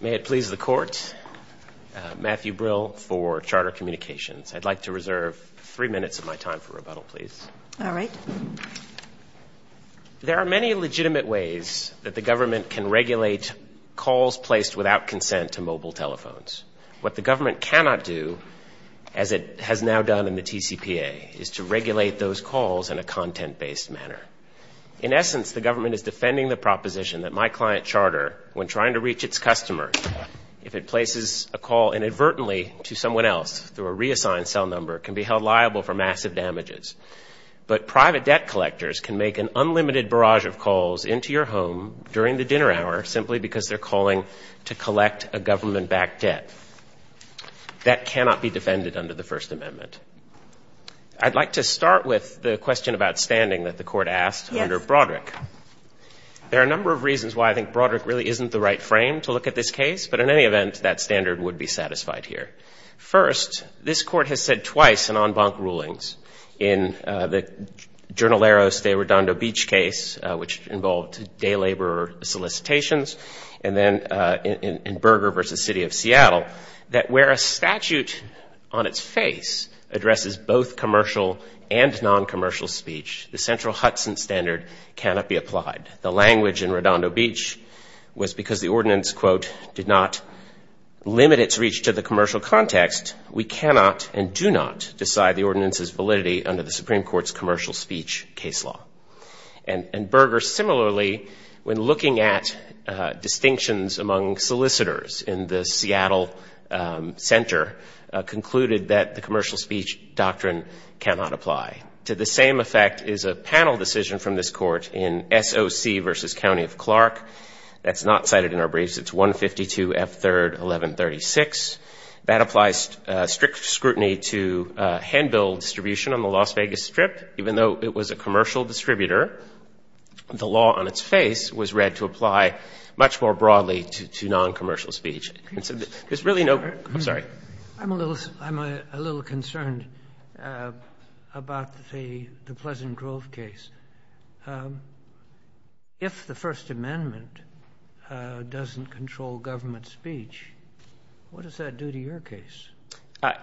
May it please the Court, Matthew Brill for Charter Communications. I'd like to reserve three minutes of my time for rebuttal, please. All right. There are many legitimate ways that the government can regulate calls placed without consent to mobile telephones. What the government cannot do, as it has now done in the TCPA, is to regulate those calls in a content-based manner. In essence, the government is defending the proposition that my client charter, when trying to reach its customers, if it places a call inadvertently to someone else through a reassigned cell number, can be held liable for massive damages. But private debt collectors can make an unlimited barrage of calls into your home during the dinner hour simply because they're calling to collect a government-backed debt. That cannot be defended under the First Amendment. I'd like to start with the question about standing that the Court asked under Broderick. There are a number of reasons why I think Broderick really isn't the right frame to look at this case, but in any event, that standard would be satisfied here. First, this Court has said twice in en banc rulings, in the Jornaleros de Redondo Beach case, which involved day labor solicitations, and then in Berger v. City of Seattle, that where a statute on its face addresses both commercial and non-commercial speech, the central Hudson standard cannot be applied. The language in Redondo Beach was because the ordinance, quote, did not limit its reach to the commercial context. We cannot and do not decide the ordinance's validity under the Supreme Court's commercial speech case law. And Berger similarly, when looking at distinctions among solicitors in the Seattle center, concluded that the commercial speech doctrine cannot apply. To the same effect is a panel decision from this Court in S.O.C. v. County of Clark. That's not cited in our briefs. It's 152 F. 3rd 1136. That applies strict scrutiny to handbill distribution on the Las Vegas Strip, even though it was a commercial distributor. The law on its face was read to apply much more broadly to non-commercial speech. And so there's really no ---- I'm sorry. I'm a little concerned about the Pleasant Grove case. If the First Amendment doesn't control government speech, what does that do to your case?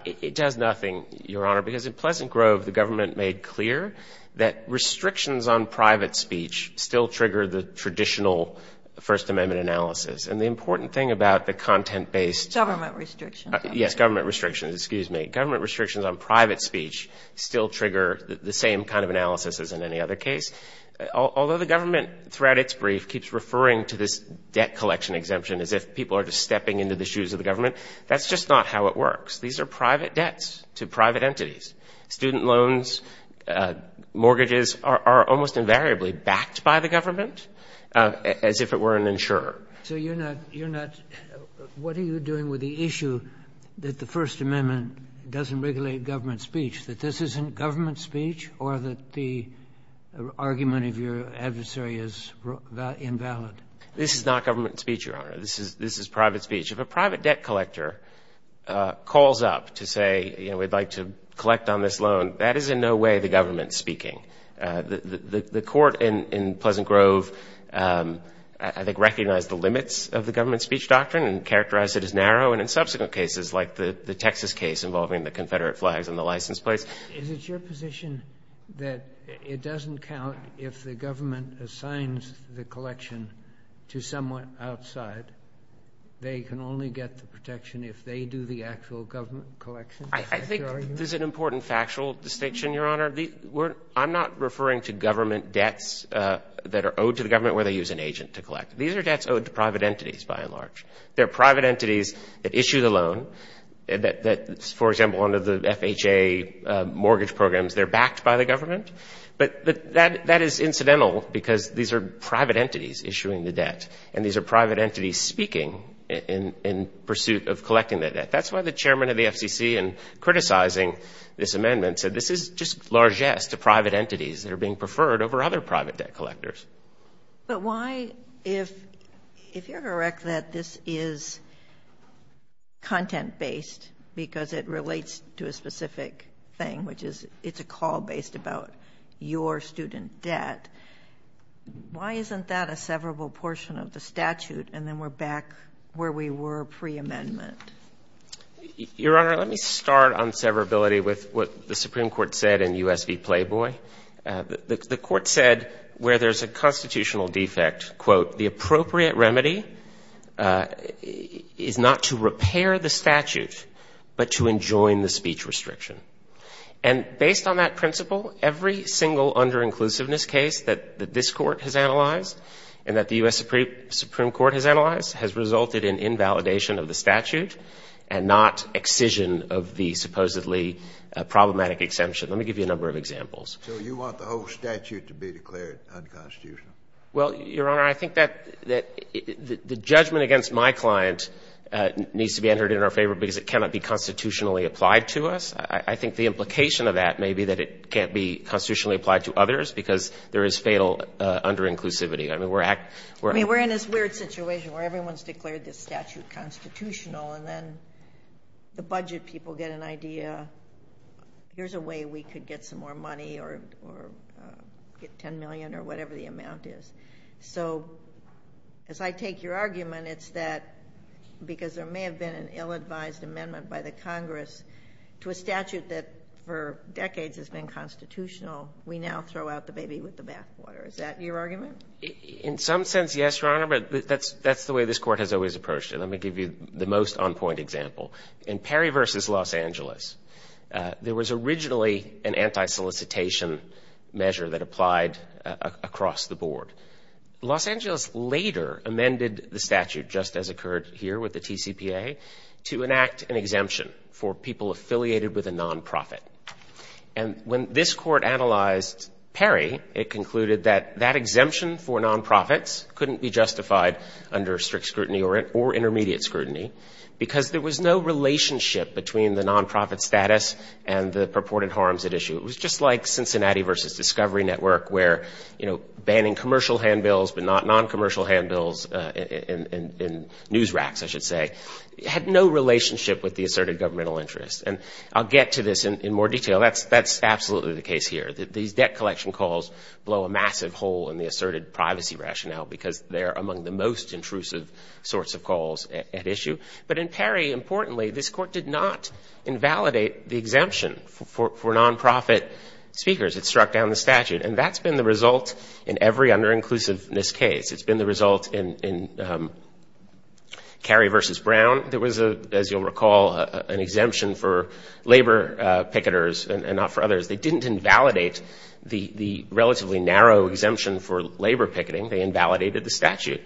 It does nothing, Your Honor. Because in Pleasant Grove, the government made clear that restrictions on private speech still trigger the traditional First Amendment analysis. And the important thing about the content-based ---- Government restrictions. Yes, government restrictions. Excuse me. Government restrictions on private speech still trigger the same kind of analysis as in any other case. Although the government, throughout its brief, keeps referring to this debt collection exemption as if people are just stepping into the shoes of the government, that's just not how it works. These are private debts to private entities. Student loans, mortgages are almost invariably backed by the government as if it were an insurer. So you're not ---- you're not ---- What are you doing with the issue that the First Amendment doesn't regulate government speech, that this isn't government speech or that the argument of your adversary is invalid? This is not government speech, Your Honor. This is private speech. If a private debt collector calls up to say, you know, we'd like to collect on this loan, that is in no way the government speaking. The court in Pleasant Grove, I think, recognized the limits of the government speech doctrine and characterized it as narrow. And in subsequent cases like the Texas case involving the Confederate flags and the license plates ---- Is it your position that it doesn't count if the government assigns the collection to someone outside, they can only get the protection if they do the actual government collection? I think there's an important factual distinction, Your Honor. I'm not referring to government debts that are owed to the government where they use an agent to collect. These are debts owed to private entities, by and large. They're private entities that issue the loan that, for example, under the FHA mortgage programs, they're backed by the government. And these are private entities speaking in pursuit of collecting that debt. That's why the chairman of the FCC, in criticizing this amendment, said this is just largesse to private entities that are being preferred over other private debt collectors. But why, if you're correct that this is content-based because it relates to a specific thing, which is it's a call based about your student debt, why isn't that a severable portion of the statute and then we're back where we were preamendment? Your Honor, let me start on severability with what the Supreme Court said in U.S. v. Playboy. The Court said where there's a constitutional defect, quote, the appropriate remedy is not to repair the statute but to enjoin the speech restriction. And based on that principle, every single under-inclusiveness case that this Court has analyzed and that the U.S. Supreme Court has analyzed has resulted in invalidation of the statute and not excision of the supposedly problematic exemption. Let me give you a number of examples. So you want the whole statute to be declared unconstitutional? Well, Your Honor, I think that the judgment against my client needs to be entered in our favor because it cannot be constitutionally applied to us. I think the implication of that may be that it can't be constitutionally applied to others because there is fatal under-inclusivity. I mean, we're in this weird situation where everyone's declared this statute constitutional and then the budget people get an idea, here's a way we could get some more money or get $10 million or whatever the amount is. So as I take your argument, it's that because there may have been an ill-advised amendment by the Congress to a statute that for decades has been constitutional, we now throw out the baby with the bathwater. Is that your argument? In some sense, yes, Your Honor, but that's the way this Court has always approached it. Let me give you the most on-point example. In Perry v. Los Angeles, there was originally an anti-solicitation measure that applied across the board. Los Angeles later amended the statute, just as occurred here with the TCPA, to enact an exemption for people affiliated with a nonprofit. And when this Court analyzed Perry, it concluded that that exemption for nonprofits couldn't be justified under strict scrutiny or intermediate scrutiny because there was no relationship between the nonprofit status and the purported harms at issue. It was just like Cincinnati v. Discovery Network where, you know, banning commercial handbills but not noncommercial handbills in news racks, I should say, had no relationship with the asserted governmental interest. And I'll get to this in more detail. That's absolutely the case here. These debt collection calls blow a massive hole in the asserted privacy rationale because they're among the most intrusive sorts of calls at issue. But in Perry, importantly, this Court did not invalidate the exemption for nonprofit speakers. It struck down the statute. And that's been the result in every under-inclusiveness case. It's been the result in Kerry v. Brown. There was, as you'll recall, an exemption for labor picketers and not for others. They didn't invalidate the relatively narrow exemption for labor picketing. They invalidated the statute.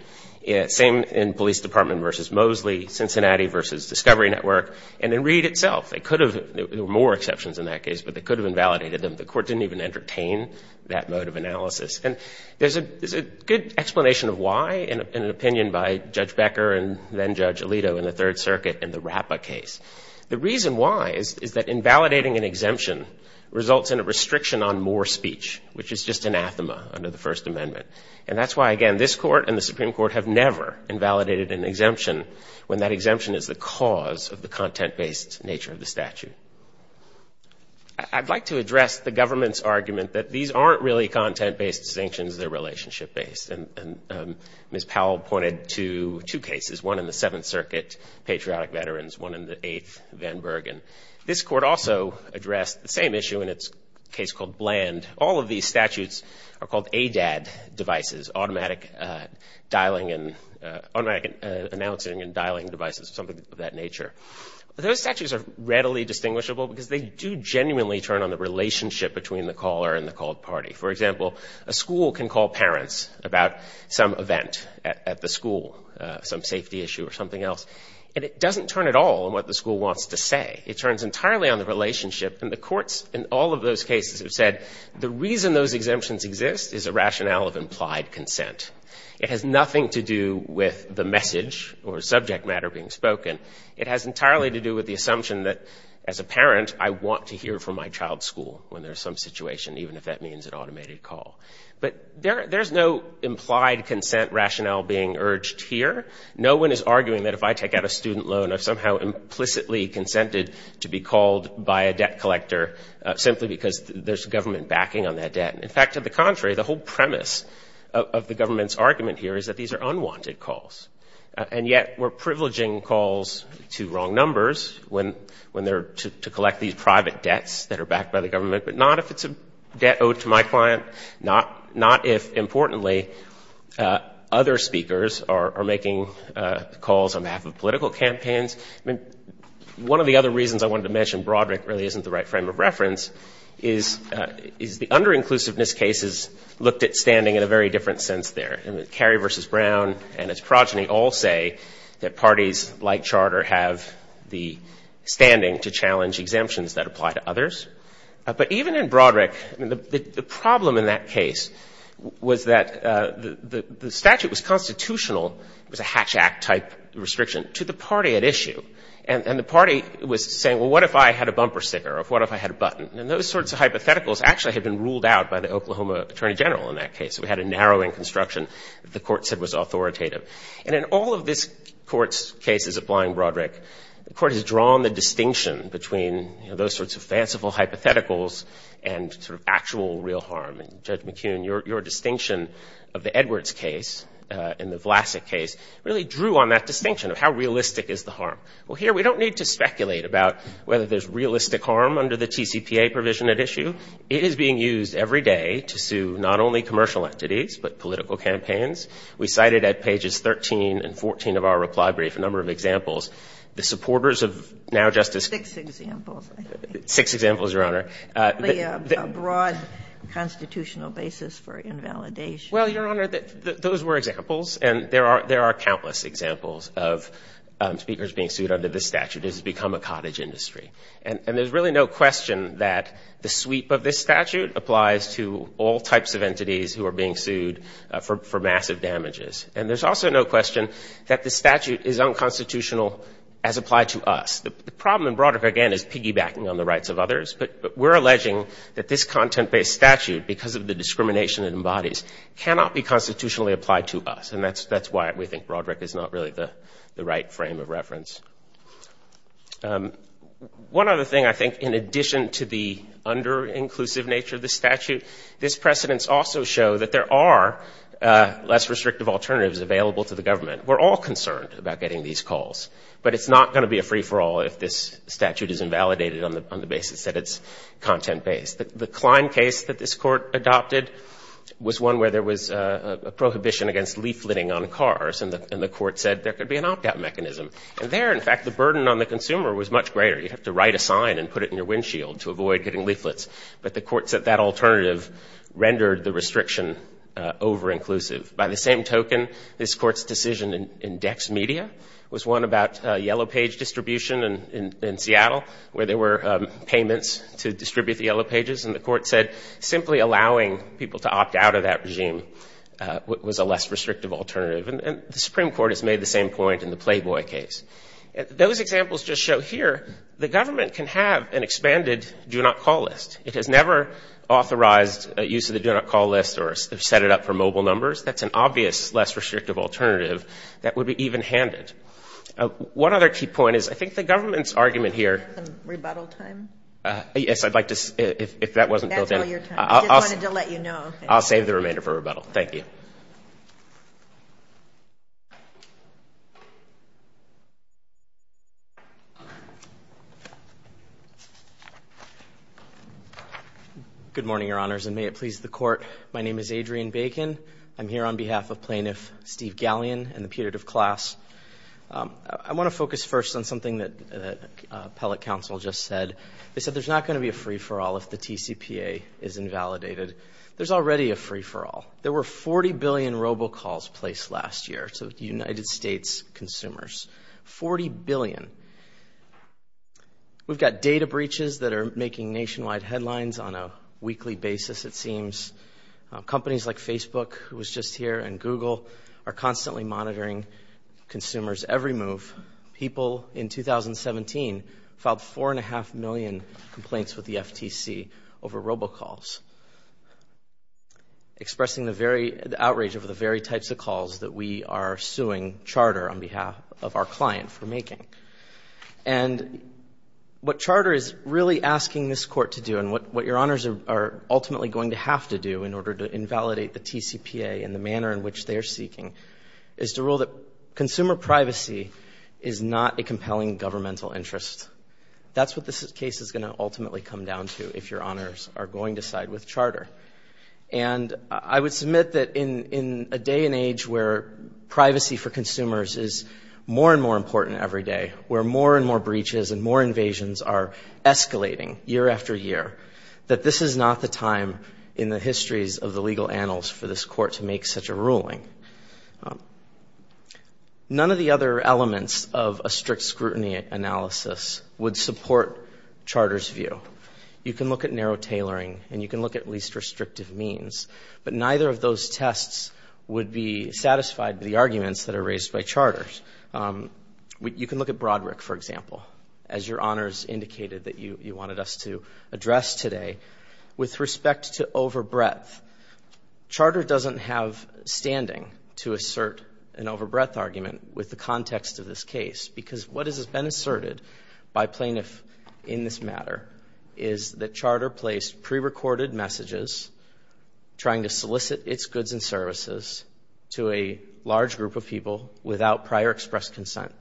Same in Police Department v. Mosley, Cincinnati v. Discovery Network, and in Reed itself. There were more exceptions in that case, but they could have invalidated them. The Court didn't even entertain that mode of analysis. And there's a good explanation of why in an opinion by Judge Becker and then Judge Alito in the Third Circuit in the RAPPA case. The reason why is that invalidating an exemption results in a restriction on more speech, which is just anathema under the First Amendment. And that's why, again, this Court and the Supreme Court have never invalidated an exemption when that exemption is the cause of the content-based nature of the statute. I'd like to address the government's argument that these aren't really content-based distinctions. They're relationship-based. And Ms. Powell pointed to two cases, one in the Seventh Circuit, Patriotic Veterans, one in the Eighth, Van Bergen. This Court also addressed the same issue in its case called Bland. All of these statutes are called ADAD devices, Automatic Announcing and Dialing Devices, something of that nature. Those statutes are readily distinguishable because they do genuinely turn on the relationship between the caller and the called party. For example, a school can call parents about some event at the school, some safety issue or something else, and it doesn't turn at all on what the school wants to say. It turns entirely on the relationship. And the courts in all of those cases have said the reason those exemptions exist is a rationale of implied consent. It has nothing to do with the message or subject matter being spoken. It has entirely to do with the assumption that as a parent, I want to hear from my child's school when there's some situation, even if that means an automated call. But there's no implied consent rationale being urged here. No one is arguing that if I take out a student loan, I've somehow implicitly consented to be called by a debt collector simply because there's government backing on that debt. In fact, to the contrary, the whole premise of the government's argument here is that these are unwanted calls. And yet we're privileging calls to wrong numbers when they're to collect these private debts that are backed by the government, but not if it's a debt owed to my client, not if, importantly, other speakers are making calls on behalf of political campaigns. I mean, one of the other reasons I wanted to mention Broderick really isn't the right frame of reference is the under-inclusiveness cases looked at standing in a very different sense there. I mean, Cary v. Brown and its progeny all say that parties like Charter have the standing to challenge exemptions that apply to others. But even in Broderick, the problem in that case was that the statute was constitutional. It was a Hatch Act-type restriction to the party at issue. And the party was saying, well, what if I had a bumper sticker or what if I had a button? And those sorts of hypotheticals actually had been ruled out by the Oklahoma attorney general in that case. We had a narrowing construction that the Court said was authoritative. And in all of this Court's cases applying Broderick, the Court has drawn the distinction between, you know, those sorts of fanciful hypotheticals and sort of actual real harm. And Judge McKeon, your distinction of the Edwards case and the Vlasic case really drew on that distinction of how realistic is the harm. Well, here we don't need to speculate about whether there's realistic harm under the TCPA provision at issue. It is being used every day to sue not only commercial entities, but political campaigns. We cited at pages 13 and 14 of our reply brief a number of examples. The supporters of now Justice Kagan. Six examples. Six examples, Your Honor. A broad constitutional basis for invalidation. Well, Your Honor, those were examples. And there are countless examples of speakers being sued under this statute. This has become a cottage industry. And there's really no question that the sweep of this statute applies to all types of entities who are being sued for massive damages. And there's also no question that the statute is unconstitutional as applied to us. The problem in Broderick, again, is piggybacking on the rights of others. But we're alleging that this content-based statute, because of the discrimination it embodies, cannot be constitutionally applied to us. And that's why we think Broderick is not really the right frame of reference. One other thing I think, in addition to the under-inclusive nature of the statute, this precedence also shows that there are less restrictive alternatives available to the government. We're all concerned about getting these calls. But it's not going to be a free-for-all if this statute is invalidated on the basis that it's content-based. The Klein case that this Court adopted was one where there was a prohibition against leafleting on cars. And the Court said there could be an opt-out mechanism. And there, in fact, the burden on the consumer was much greater. You'd have to write a sign and put it in your windshield to avoid getting leaflets. But the Court said that alternative rendered the restriction over-inclusive. By the same token, this Court's decision in DexMedia was one about yellow-page distribution in Seattle, where there were payments to distribute the yellow pages. And the Court said simply allowing people to opt out of that regime was a less restrictive alternative. And the Supreme Court has made the same point in the Playboy case. Those examples just show here the government can have an expanded do-not-call list. It has never authorized use of the do-not-call list or set it up for mobile numbers. That's an obvious less restrictive alternative that would be even-handed. One other key point is I think the government's argument here. Rebuttal time? Yes, I'd like to see if that wasn't built in. That's all your time. I just wanted to let you know. I'll save the remainder for rebuttal. Thank you. Good morning, Your Honors, and may it please the Court. My name is Adrian Bacon. I'm here on behalf of Plaintiff Steve Gallion and the putative class. I want to focus first on something that appellate counsel just said. They said there's not going to be a free-for-all if the TCPA is invalidated. There's already a free-for-all. There were 40 billion robocalls placed last year to United States consumers. Forty billion. We've got data breaches that are making nationwide headlines on a weekly basis, it seems. Companies like Facebook, who was just here, and Google are constantly monitoring consumers' every move. People in 2017 filed 4.5 million complaints with the FTC over robocalls, expressing the outrage over the very types of calls that we are suing Charter on behalf of our client for making. And what Charter is really asking this Court to do, and what Your Honors are ultimately going to have to do in order to invalidate the TCPA and the manner in which they are seeking, is to rule that consumer privacy is not a compelling governmental interest. That's what this case is going to ultimately come down to, if Your Honors are going to side with Charter. And I would submit that in a day and age where privacy for consumers is more and more important every day, where more and more breaches and more invasions are escalating year after year, that this is not the time in the histories of the legal annals for this Court to make such a ruling. None of the other elements of a strict scrutiny analysis would support Charter's view. You can look at narrow tailoring, and you can look at least restrictive means, but neither of those tests would be satisfied with the arguments that are raised by Charter. You can look at Broderick, for example, as Your Honors indicated that you wanted us to address today. With respect to overbreadth, Charter doesn't have standing to assert an overbreadth argument with the context of this case, because what has been asserted by plaintiffs in this matter is that Charter placed prerecorded messages trying to solicit its goods and services to a large group of people without prior express consent.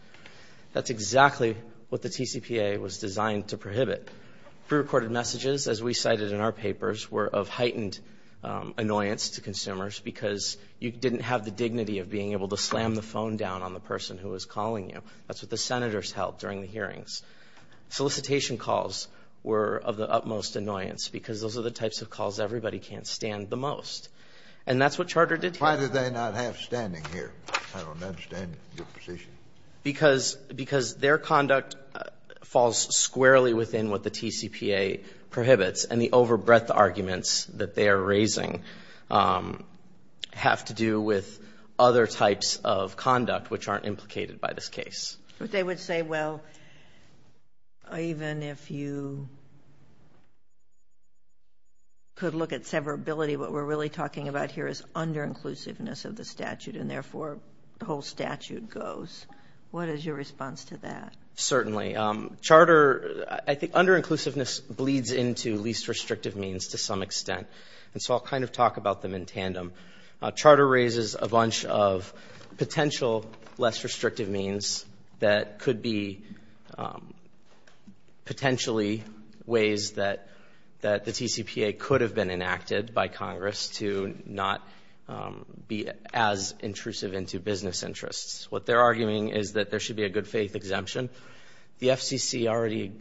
That's exactly what the TCPA was designed to prohibit. Prerecorded messages, as we cited in our papers, were of heightened annoyance to consumers because you didn't have the dignity of being able to slam the phone down on the person who was calling you. That's what the Senators held during the hearings. Solicitation calls were of the utmost annoyance because those are the types of calls everybody can't stand the most. And that's what Charter did here. Why did they not have standing here? I don't understand your position. Because their conduct falls squarely within what the TCPA prohibits, and the overbreadth arguments that they are raising have to do with other types of conduct which aren't implicated by this case. But they would say, well, even if you could look at severability, what we're really talking about here is under-inclusiveness of the statute, and therefore the whole statute goes. What is your response to that? Certainly. Charter, I think under-inclusiveness bleeds into least restrictive means to some extent. And so I'll kind of talk about them in tandem. Charter raises a bunch of potential less restrictive means that could be potentially ways that the TCPA could have been enacted by Congress to not be as intrusive into business interests. What they're arguing is that there should be a good-faith exemption. The FCC already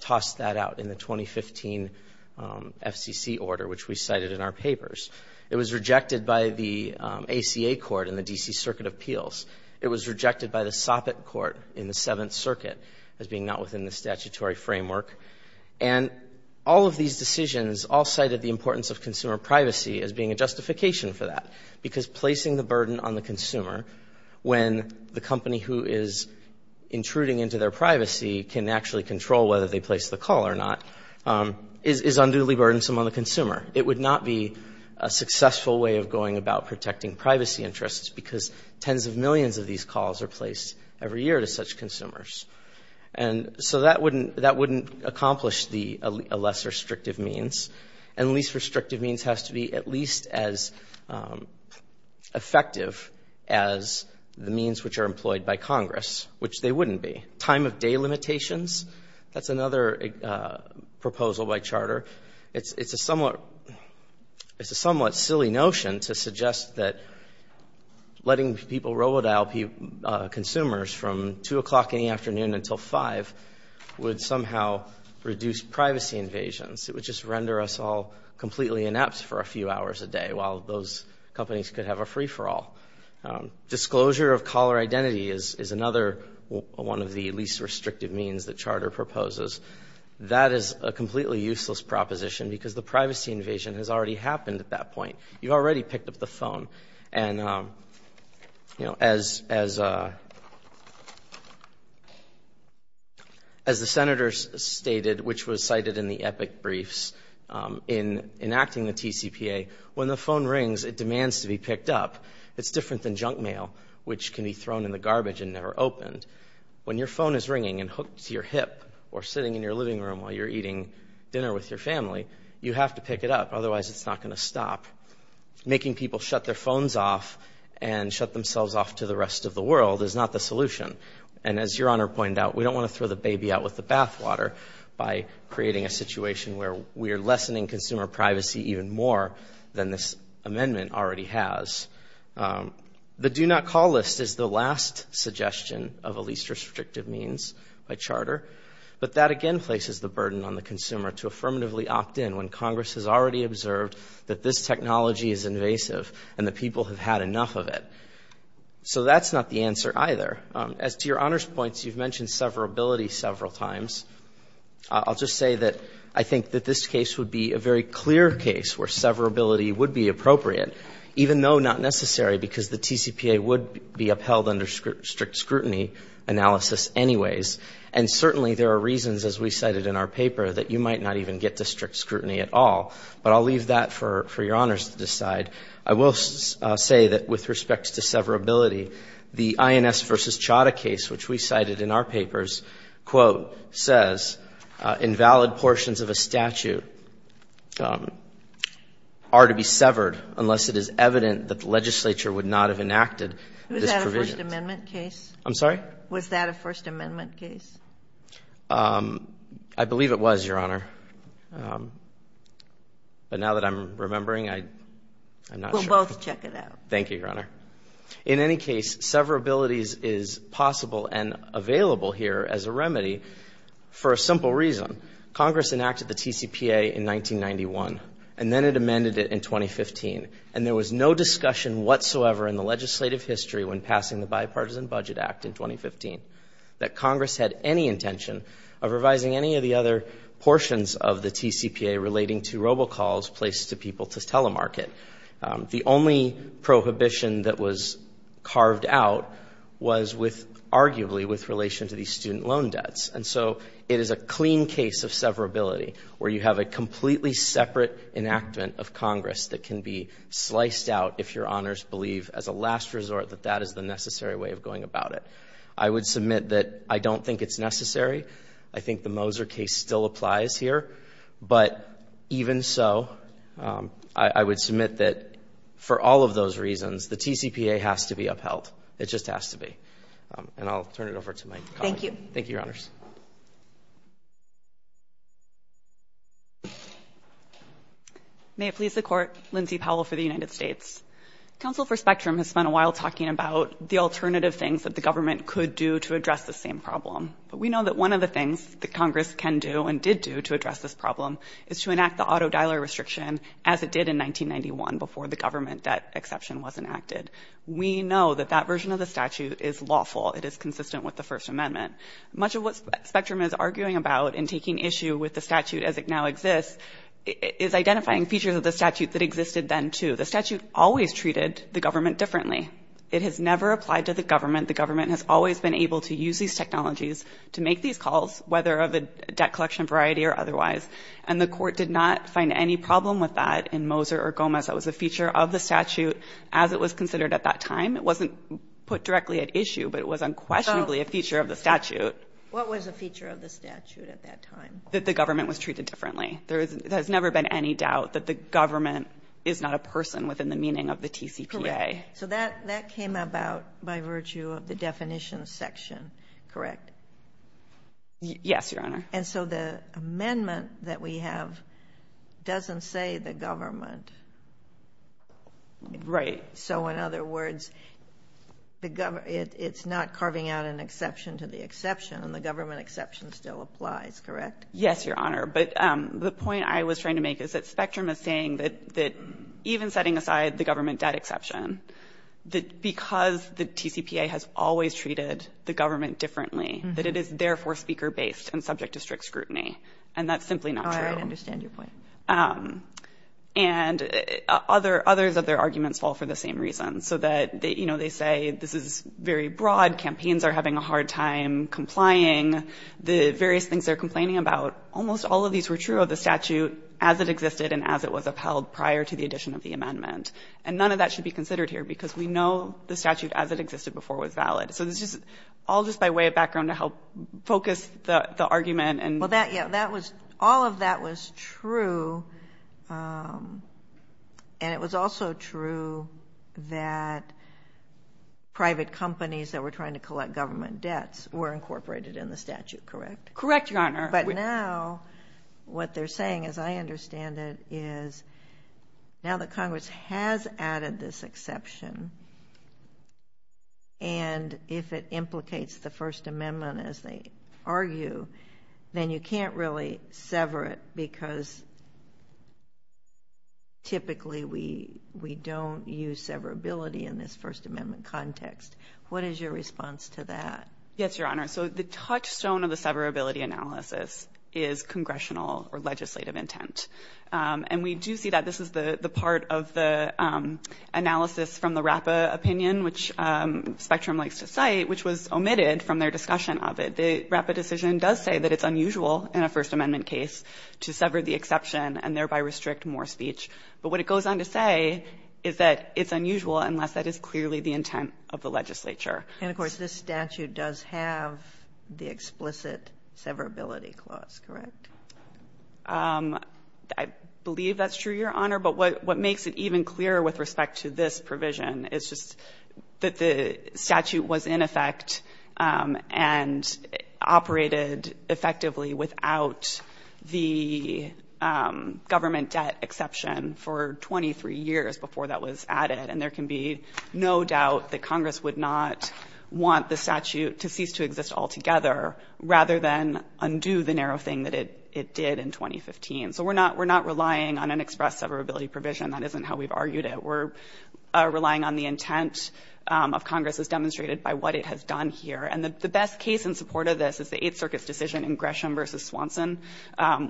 tossed that out in the 2015 FCC order, which we cited in our papers. It was rejected by the ACA Court in the D.C. Circuit of Appeals. It was rejected by the Soppitt Court in the Seventh Circuit as being not within the statutory framework. And all of these decisions all cited the importance of consumer privacy as being a justification for that, because placing the burden on the consumer when the company who is intruding into their privacy can actually control whether they place the call or not is unduly burdensome on the consumer. It would not be a successful way of going about protecting privacy interests because tens of millions of these calls are placed every year to such consumers. And so that wouldn't accomplish the less restrictive means. And least restrictive means has to be at least as effective as the means which are employed by Congress, which they wouldn't be. Time of day limitations, that's another proposal by Charter. It's a somewhat silly notion to suggest that letting people robodial consumers from 2 o'clock in the afternoon until 5 would somehow reduce privacy invasions. It would just render us all completely inept for a few hours a day while those companies could have a free-for-all. Disclosure of caller identity is another one of the least restrictive means that Charter proposes. That is a completely useless proposition because the privacy invasion has already happened at that point. You already picked up the phone. And, you know, as the Senators stated, which was cited in the epic briefs, in enacting the TCPA, when the phone rings, it demands to be picked up. It's different than junk mail, which can be thrown in the garbage and never opened. When your phone is ringing and hooked to your hip or sitting in your living room while you're eating dinner with your family, you have to pick it up, otherwise it's not going to stop. Making people shut their phones off and shut themselves off to the rest of the world is not the solution. And as Your Honor pointed out, we don't want to throw the baby out with the bathwater by creating a situation where we are lessening consumer privacy even more than this amendment already has. The do not call list is the last suggestion of a least restrictive means by Charter. But that, again, places the burden on the consumer to affirmatively opt in when Congress has already observed that this technology is invasive and the people have had enough of it. So that's not the answer either. As to Your Honor's points, you've mentioned severability several times. I'll just say that I think that this case would be a very clear case where severability would be appropriate, even though not necessary because the TCPA would be upheld under strict scrutiny analysis anyways. And certainly there are reasons, as we cited in our paper, that you might not even get to strict scrutiny at all. But I'll leave that for Your Honors to decide. I will say that with respect to severability, the INS v. Chadha case, which we cited in our papers, quote, says, invalid portions of a statute are to be severed unless it is evident that the legislature would not have enacted this provision. Was that a First Amendment case? I'm sorry? Was that a First Amendment case? I believe it was, Your Honor. But now that I'm remembering, I'm not sure. We'll both check it out. Thank you, Your Honor. In any case, severability is possible and available here as a remedy for a simple reason. Congress enacted the TCPA in 1991, and then it amended it in 2015. And there was no discussion whatsoever in the legislative history when passing the Bipartisan Budget Act in 2015 that Congress had any intention of revising any of the other portions of the TCPA relating to robocalls placed to people to telemarket. The only prohibition that was carved out was with arguably with relation to the student loan debts. And so it is a clean case of severability where you have a completely separate enactment of Congress that can be sliced out if Your Honors believe as a last resort that that is the necessary way of going about it. I would submit that I don't think it's necessary. I think the Moser case still applies here. But even so, I would submit that for all of those reasons, the TCPA has to be upheld. It just has to be. And I'll turn it over to my colleague. Thank you. Thank you, Your Honors. May it please the Court. Lindsay Powell for the United States. Counsel for Spectrum has spent a while talking about the alternative things that the government could do to address the same problem. But we know that one of the things that Congress can do and did do to address this problem is to enact the auto-dialer restriction as it did in 1991 before the government debt exception was enacted. We know that that version of the statute is lawful. It is consistent with the First Amendment. Much of what Spectrum is arguing about in taking issue with the statute as it now exists is identifying features of the statute that existed then, too. The statute always treated the government differently. It has never applied to the government. The government has always been able to use these technologies to make these calls, whether of a debt collection variety or otherwise. And the Court did not find any problem with that in Moser or Gomez. That was a feature of the statute as it was considered at that time. It wasn't put directly at issue, but it was unquestionably a feature of the statute. What was a feature of the statute at that time? That the government was treated differently. There has never been any doubt that the government is not a person within the meaning of the TCPA. Correct. Okay. So that came about by virtue of the definition section, correct? Yes, Your Honor. And so the amendment that we have doesn't say the government. Right. So in other words, it's not carving out an exception to the exception, and the government exception still applies, correct? Yes, Your Honor. But the point I was trying to make is that Spectrum is saying that even setting aside the government debt exception, that because the TCPA has always treated the government differently, that it is therefore speaker-based and subject to strict scrutiny. And that's simply not true. Oh, I understand your point. And others of their arguments fall for the same reasons, so that, you know, they say this is very broad, campaigns are having a hard time complying, the various things they're complaining about. Almost all of these were true of the statute as it existed and as it was upheld prior to the addition of the amendment. And none of that should be considered here because we know the statute as it existed before was valid. So this is all just by way of background to help focus the argument. Well, yeah, all of that was true, and it was also true that private companies that were trying to collect government debts were incorporated in the statute, correct? Correct, Your Honor. But now what they're saying, as I understand it, is now that Congress has added this exception, and if it implicates the First Amendment as they argue, then you can't really sever it because typically we don't use severability in this First Amendment context. What is your response to that? Yes, Your Honor. So the touchstone of the severability analysis is congressional or legislative intent. And we do see that. This is the part of the analysis from the RAPPA opinion, which Spectrum likes to cite, which was omitted from their discussion of it. The RAPPA decision does say that it's unusual in a First Amendment case to sever the exception and thereby restrict more speech. But what it goes on to say is that it's unusual unless that is clearly the intent of the legislature. And, of course, this statute does have the explicit severability clause, correct? I believe that's true, Your Honor. But what makes it even clearer with respect to this provision is just that the statute was in effect and operated effectively without the government debt exception for 23 years before that was added. And there can be no doubt that Congress would not want the statute to cease to exist altogether rather than undo the narrow thing that it did in 2015. So we're not relying on an express severability provision. That isn't how we've argued it. We're relying on the intent of Congress as demonstrated by what it has done here. And the best case in support of this is the Eighth Circuit's decision in Gresham v. Swanson,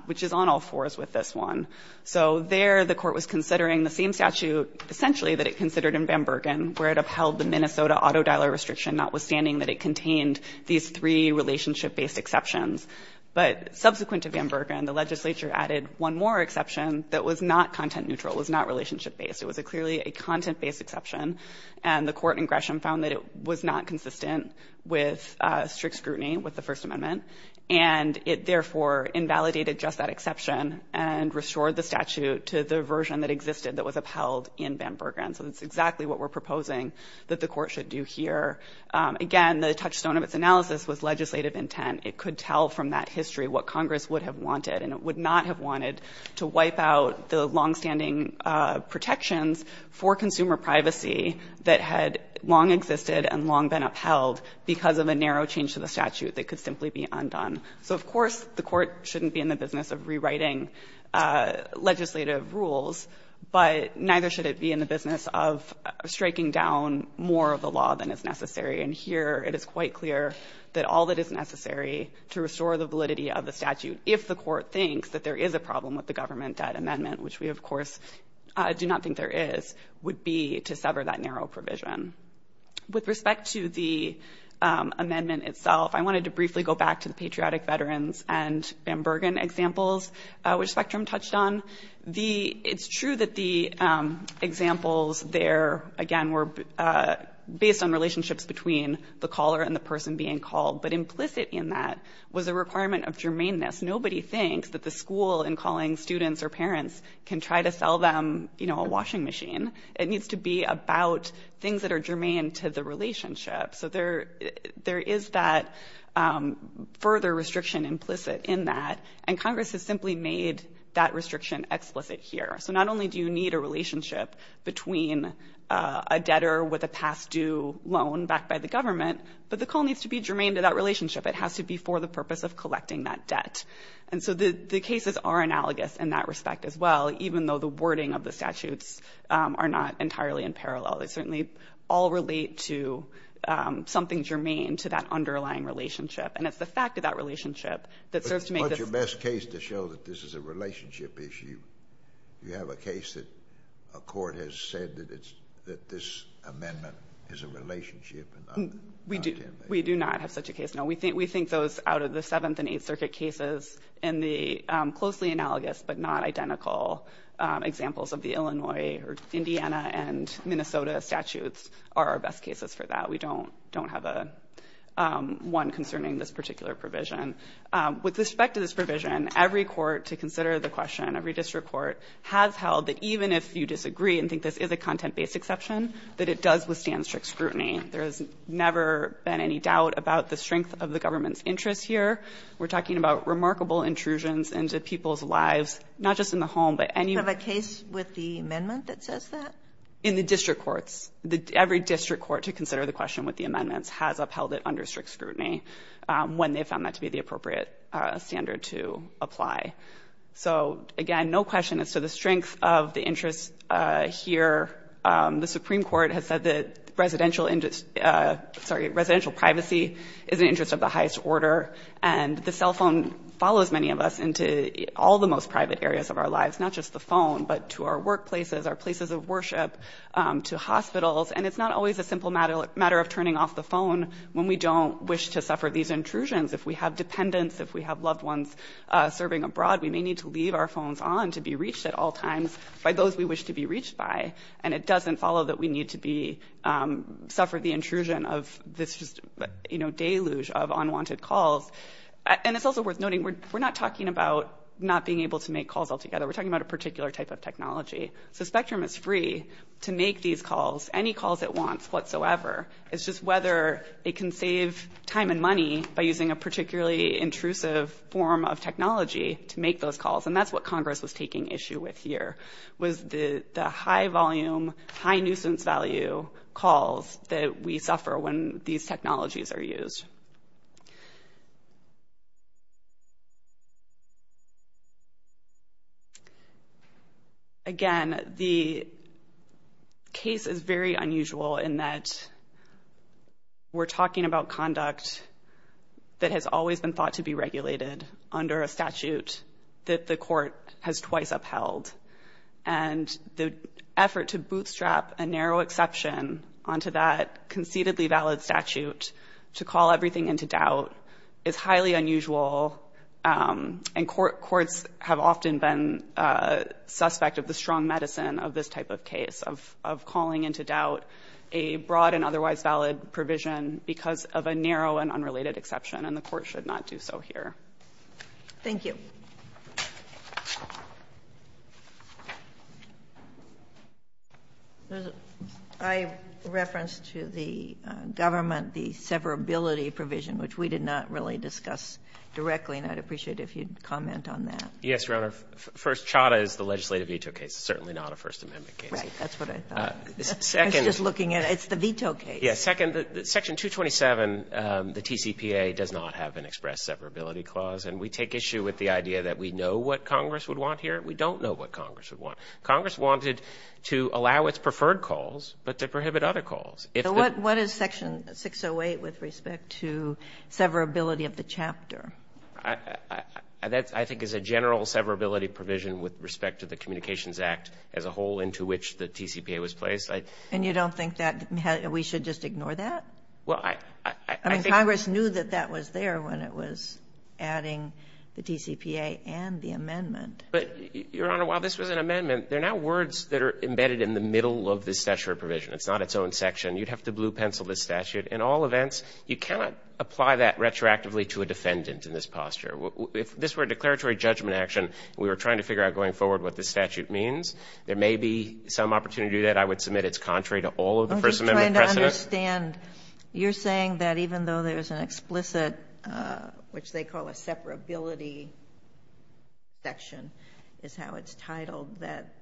which is on all fours with this one. So there the court was considering the same statute essentially that it considered in Van Bergen, where it upheld the Minnesota auto dialer restriction, notwithstanding that it contained these three relationship-based exceptions. But subsequent to Van Bergen, the legislature added one more exception that was not content-neutral, was not relationship-based. It was clearly a content-based exception. And the court in Gresham found that it was not consistent with strict scrutiny with the First Amendment. And it therefore invalidated just that exception and restored the statute to the version that existed that was upheld in Van Bergen. So that's exactly what we're proposing that the court should do here. Again, the touchstone of its analysis was legislative intent. It could tell from that history what Congress would have wanted, and it would not have wanted, to wipe out the longstanding protections for consumer privacy that had long existed and long been upheld because of a narrow change to the statute that could simply be undone. So, of course, the court shouldn't be in the business of rewriting legislative rules, but neither should it be in the business of striking down more of the law than is necessary. And here it is quite clear that all that is necessary to restore the validity of the statute, if the court thinks that there is a problem with the government debt amendment, which we, of course, do not think there is, would be to sever that narrow provision. With respect to the amendment itself, I wanted to briefly go back to the Patriotic Veterans and Van Bergen examples, which Spectrum touched on. The — it's true that the examples there, again, were based on relationships between the caller and the person being called, but implicit in that was a requirement of germaneness. Nobody thinks that the school, in calling students or parents, can try to sell them, you know, a washing machine. It needs to be about things that are germane to the relationship. So there is that further restriction implicit in that, and Congress has simply made that restriction explicit here. So not only do you need a relationship between a debtor with a past-due loan backed by the government, but the call needs to be germane to that relationship. It has to be for the purpose of collecting that debt. And so the cases are analogous in that respect as well, even though the wording of the statutes are not entirely in parallel. They certainly all relate to something germane to that underlying relationship. And it's the fact of that relationship that serves to make this — But what's your best case to show that this is a relationship issue? Do you have a case that a court has said that it's — that this amendment is a relationship and not a — We do. We do not have such a case, no. We think those out of the Seventh and Eighth Circuit cases in the closely analogous but not identical examples of the Illinois or Indiana and Minnesota statutes are our best cases for that. We don't have one concerning this particular provision. With respect to this provision, every court, to consider the question, every district court has held that even if you disagree and think this is a content-based exception, that it does withstand strict scrutiny. There has never been any doubt about the strength of the government's interest here. We're talking about remarkable intrusions into people's lives, not just in the home, but any — Do you have a case with the amendment that says that? In the district courts. Every district court, to consider the question with the amendments, has upheld it under strict scrutiny when they found that to be the appropriate standard to apply. So, again, no question as to the strength of the interest here. The Supreme Court has said that residential — sorry, residential privacy is an interest of the highest order. And the cell phone follows many of us into all the most private areas of our lives, not just the phone, but to our workplaces, our places of worship, to hospitals. And it's not always a simple matter of turning off the phone when we don't wish to suffer these intrusions. If we have dependents, if we have loved ones serving abroad, we may need to leave our phones on to be reached at all times by those we wish to be reached by. And it doesn't follow that we need to be — suffer the intrusion of this, you know, deluge of unwanted calls. And it's also worth noting, we're not talking about not being able to make calls altogether. We're talking about a particular type of technology. So Spectrum is free to make these calls, any calls it wants whatsoever. It's just whether it can save time and money by using a particularly intrusive form of technology to make those calls. And that's what Congress was taking issue with here, was the high-volume, high-nuisance value calls that we suffer when these technologies are used. Again, the case is very unusual in that we're talking about conduct that has always been thought to be regulated under a statute that the court has twice upheld. And the effort to bootstrap a narrow exception onto that concededly valid statute to call everything into doubt is highly unusual. And courts have often been suspect of the strong medicine of this type of case, of calling into doubt a broad and otherwise valid provision because of a narrow and unrelated exception. And the court should not do so here. Thank you. I referenced to the government the severability provision, which we did not really discuss directly, and I'd appreciate it if you'd comment on that. Yes, Your Honor. First, Chadha is the legislative veto case. It's certainly not a First Amendment case. Right. That's what I thought. I was just looking at it. It's the veto case. Yes. Second, Section 227, the TCPA, does not have an express severability clause. And we take issue with the idea that we know what Congress would want here. We don't know what Congress would want. Congress wanted to allow its preferred calls, but to prohibit other calls. So what is Section 608 with respect to severability of the chapter? That, I think, is a general severability provision with respect to the Communications Act as a whole into which the TCPA was placed. And you don't think that we should just ignore that? Well, I think the Congress knew that that was there when it was adding the TCPA and the amendment. But, Your Honor, while this was an amendment, there are now words that are embedded in the middle of the statute provision. It's not its own section. You'd have to blue pencil the statute. In all events, you cannot apply that retroactively to a defendant in this posture. If this were a declaratory judgment action, we were trying to figure out going forward what the statute means, there may be some opportunity that I would submit that it's contrary to all of the First Amendment precedents. I'm just trying to understand. You're saying that even though there's an explicit, which they call a severability section, is how it's titled, that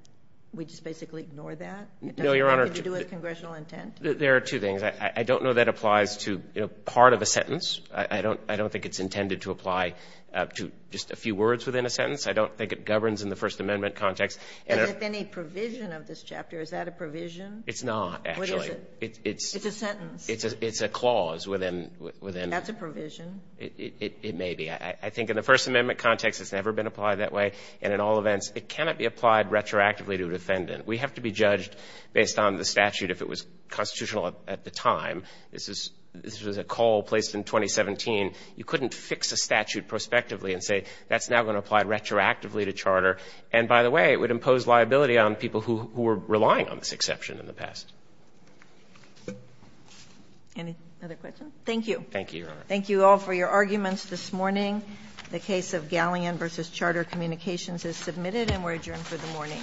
we just basically ignore that? No, Your Honor. It doesn't have anything to do with congressional intent? There are two things. I don't know that applies to, you know, part of a sentence. I don't think it's intended to apply to just a few words within a sentence. I don't think it governs in the First Amendment context. And if any provision of this chapter, is that a provision? It's not, actually. What is it? It's a sentence. It's a clause within the sentence. That's a provision. It may be. I think in the First Amendment context, it's never been applied that way. And in all events, it cannot be applied retroactively to a defendant. We have to be judged based on the statute if it was constitutional at the time. This was a call placed in 2017. You couldn't fix a statute prospectively and say that's now going to apply retroactively to charter. And by the way, it would impose liability on people who were relying on this exception in the past. Any other questions? Thank you. Thank you, Your Honor. Thank you all for your arguments this morning. The case of Galleon v. Charter Communications is submitted and we're adjourned for the morning.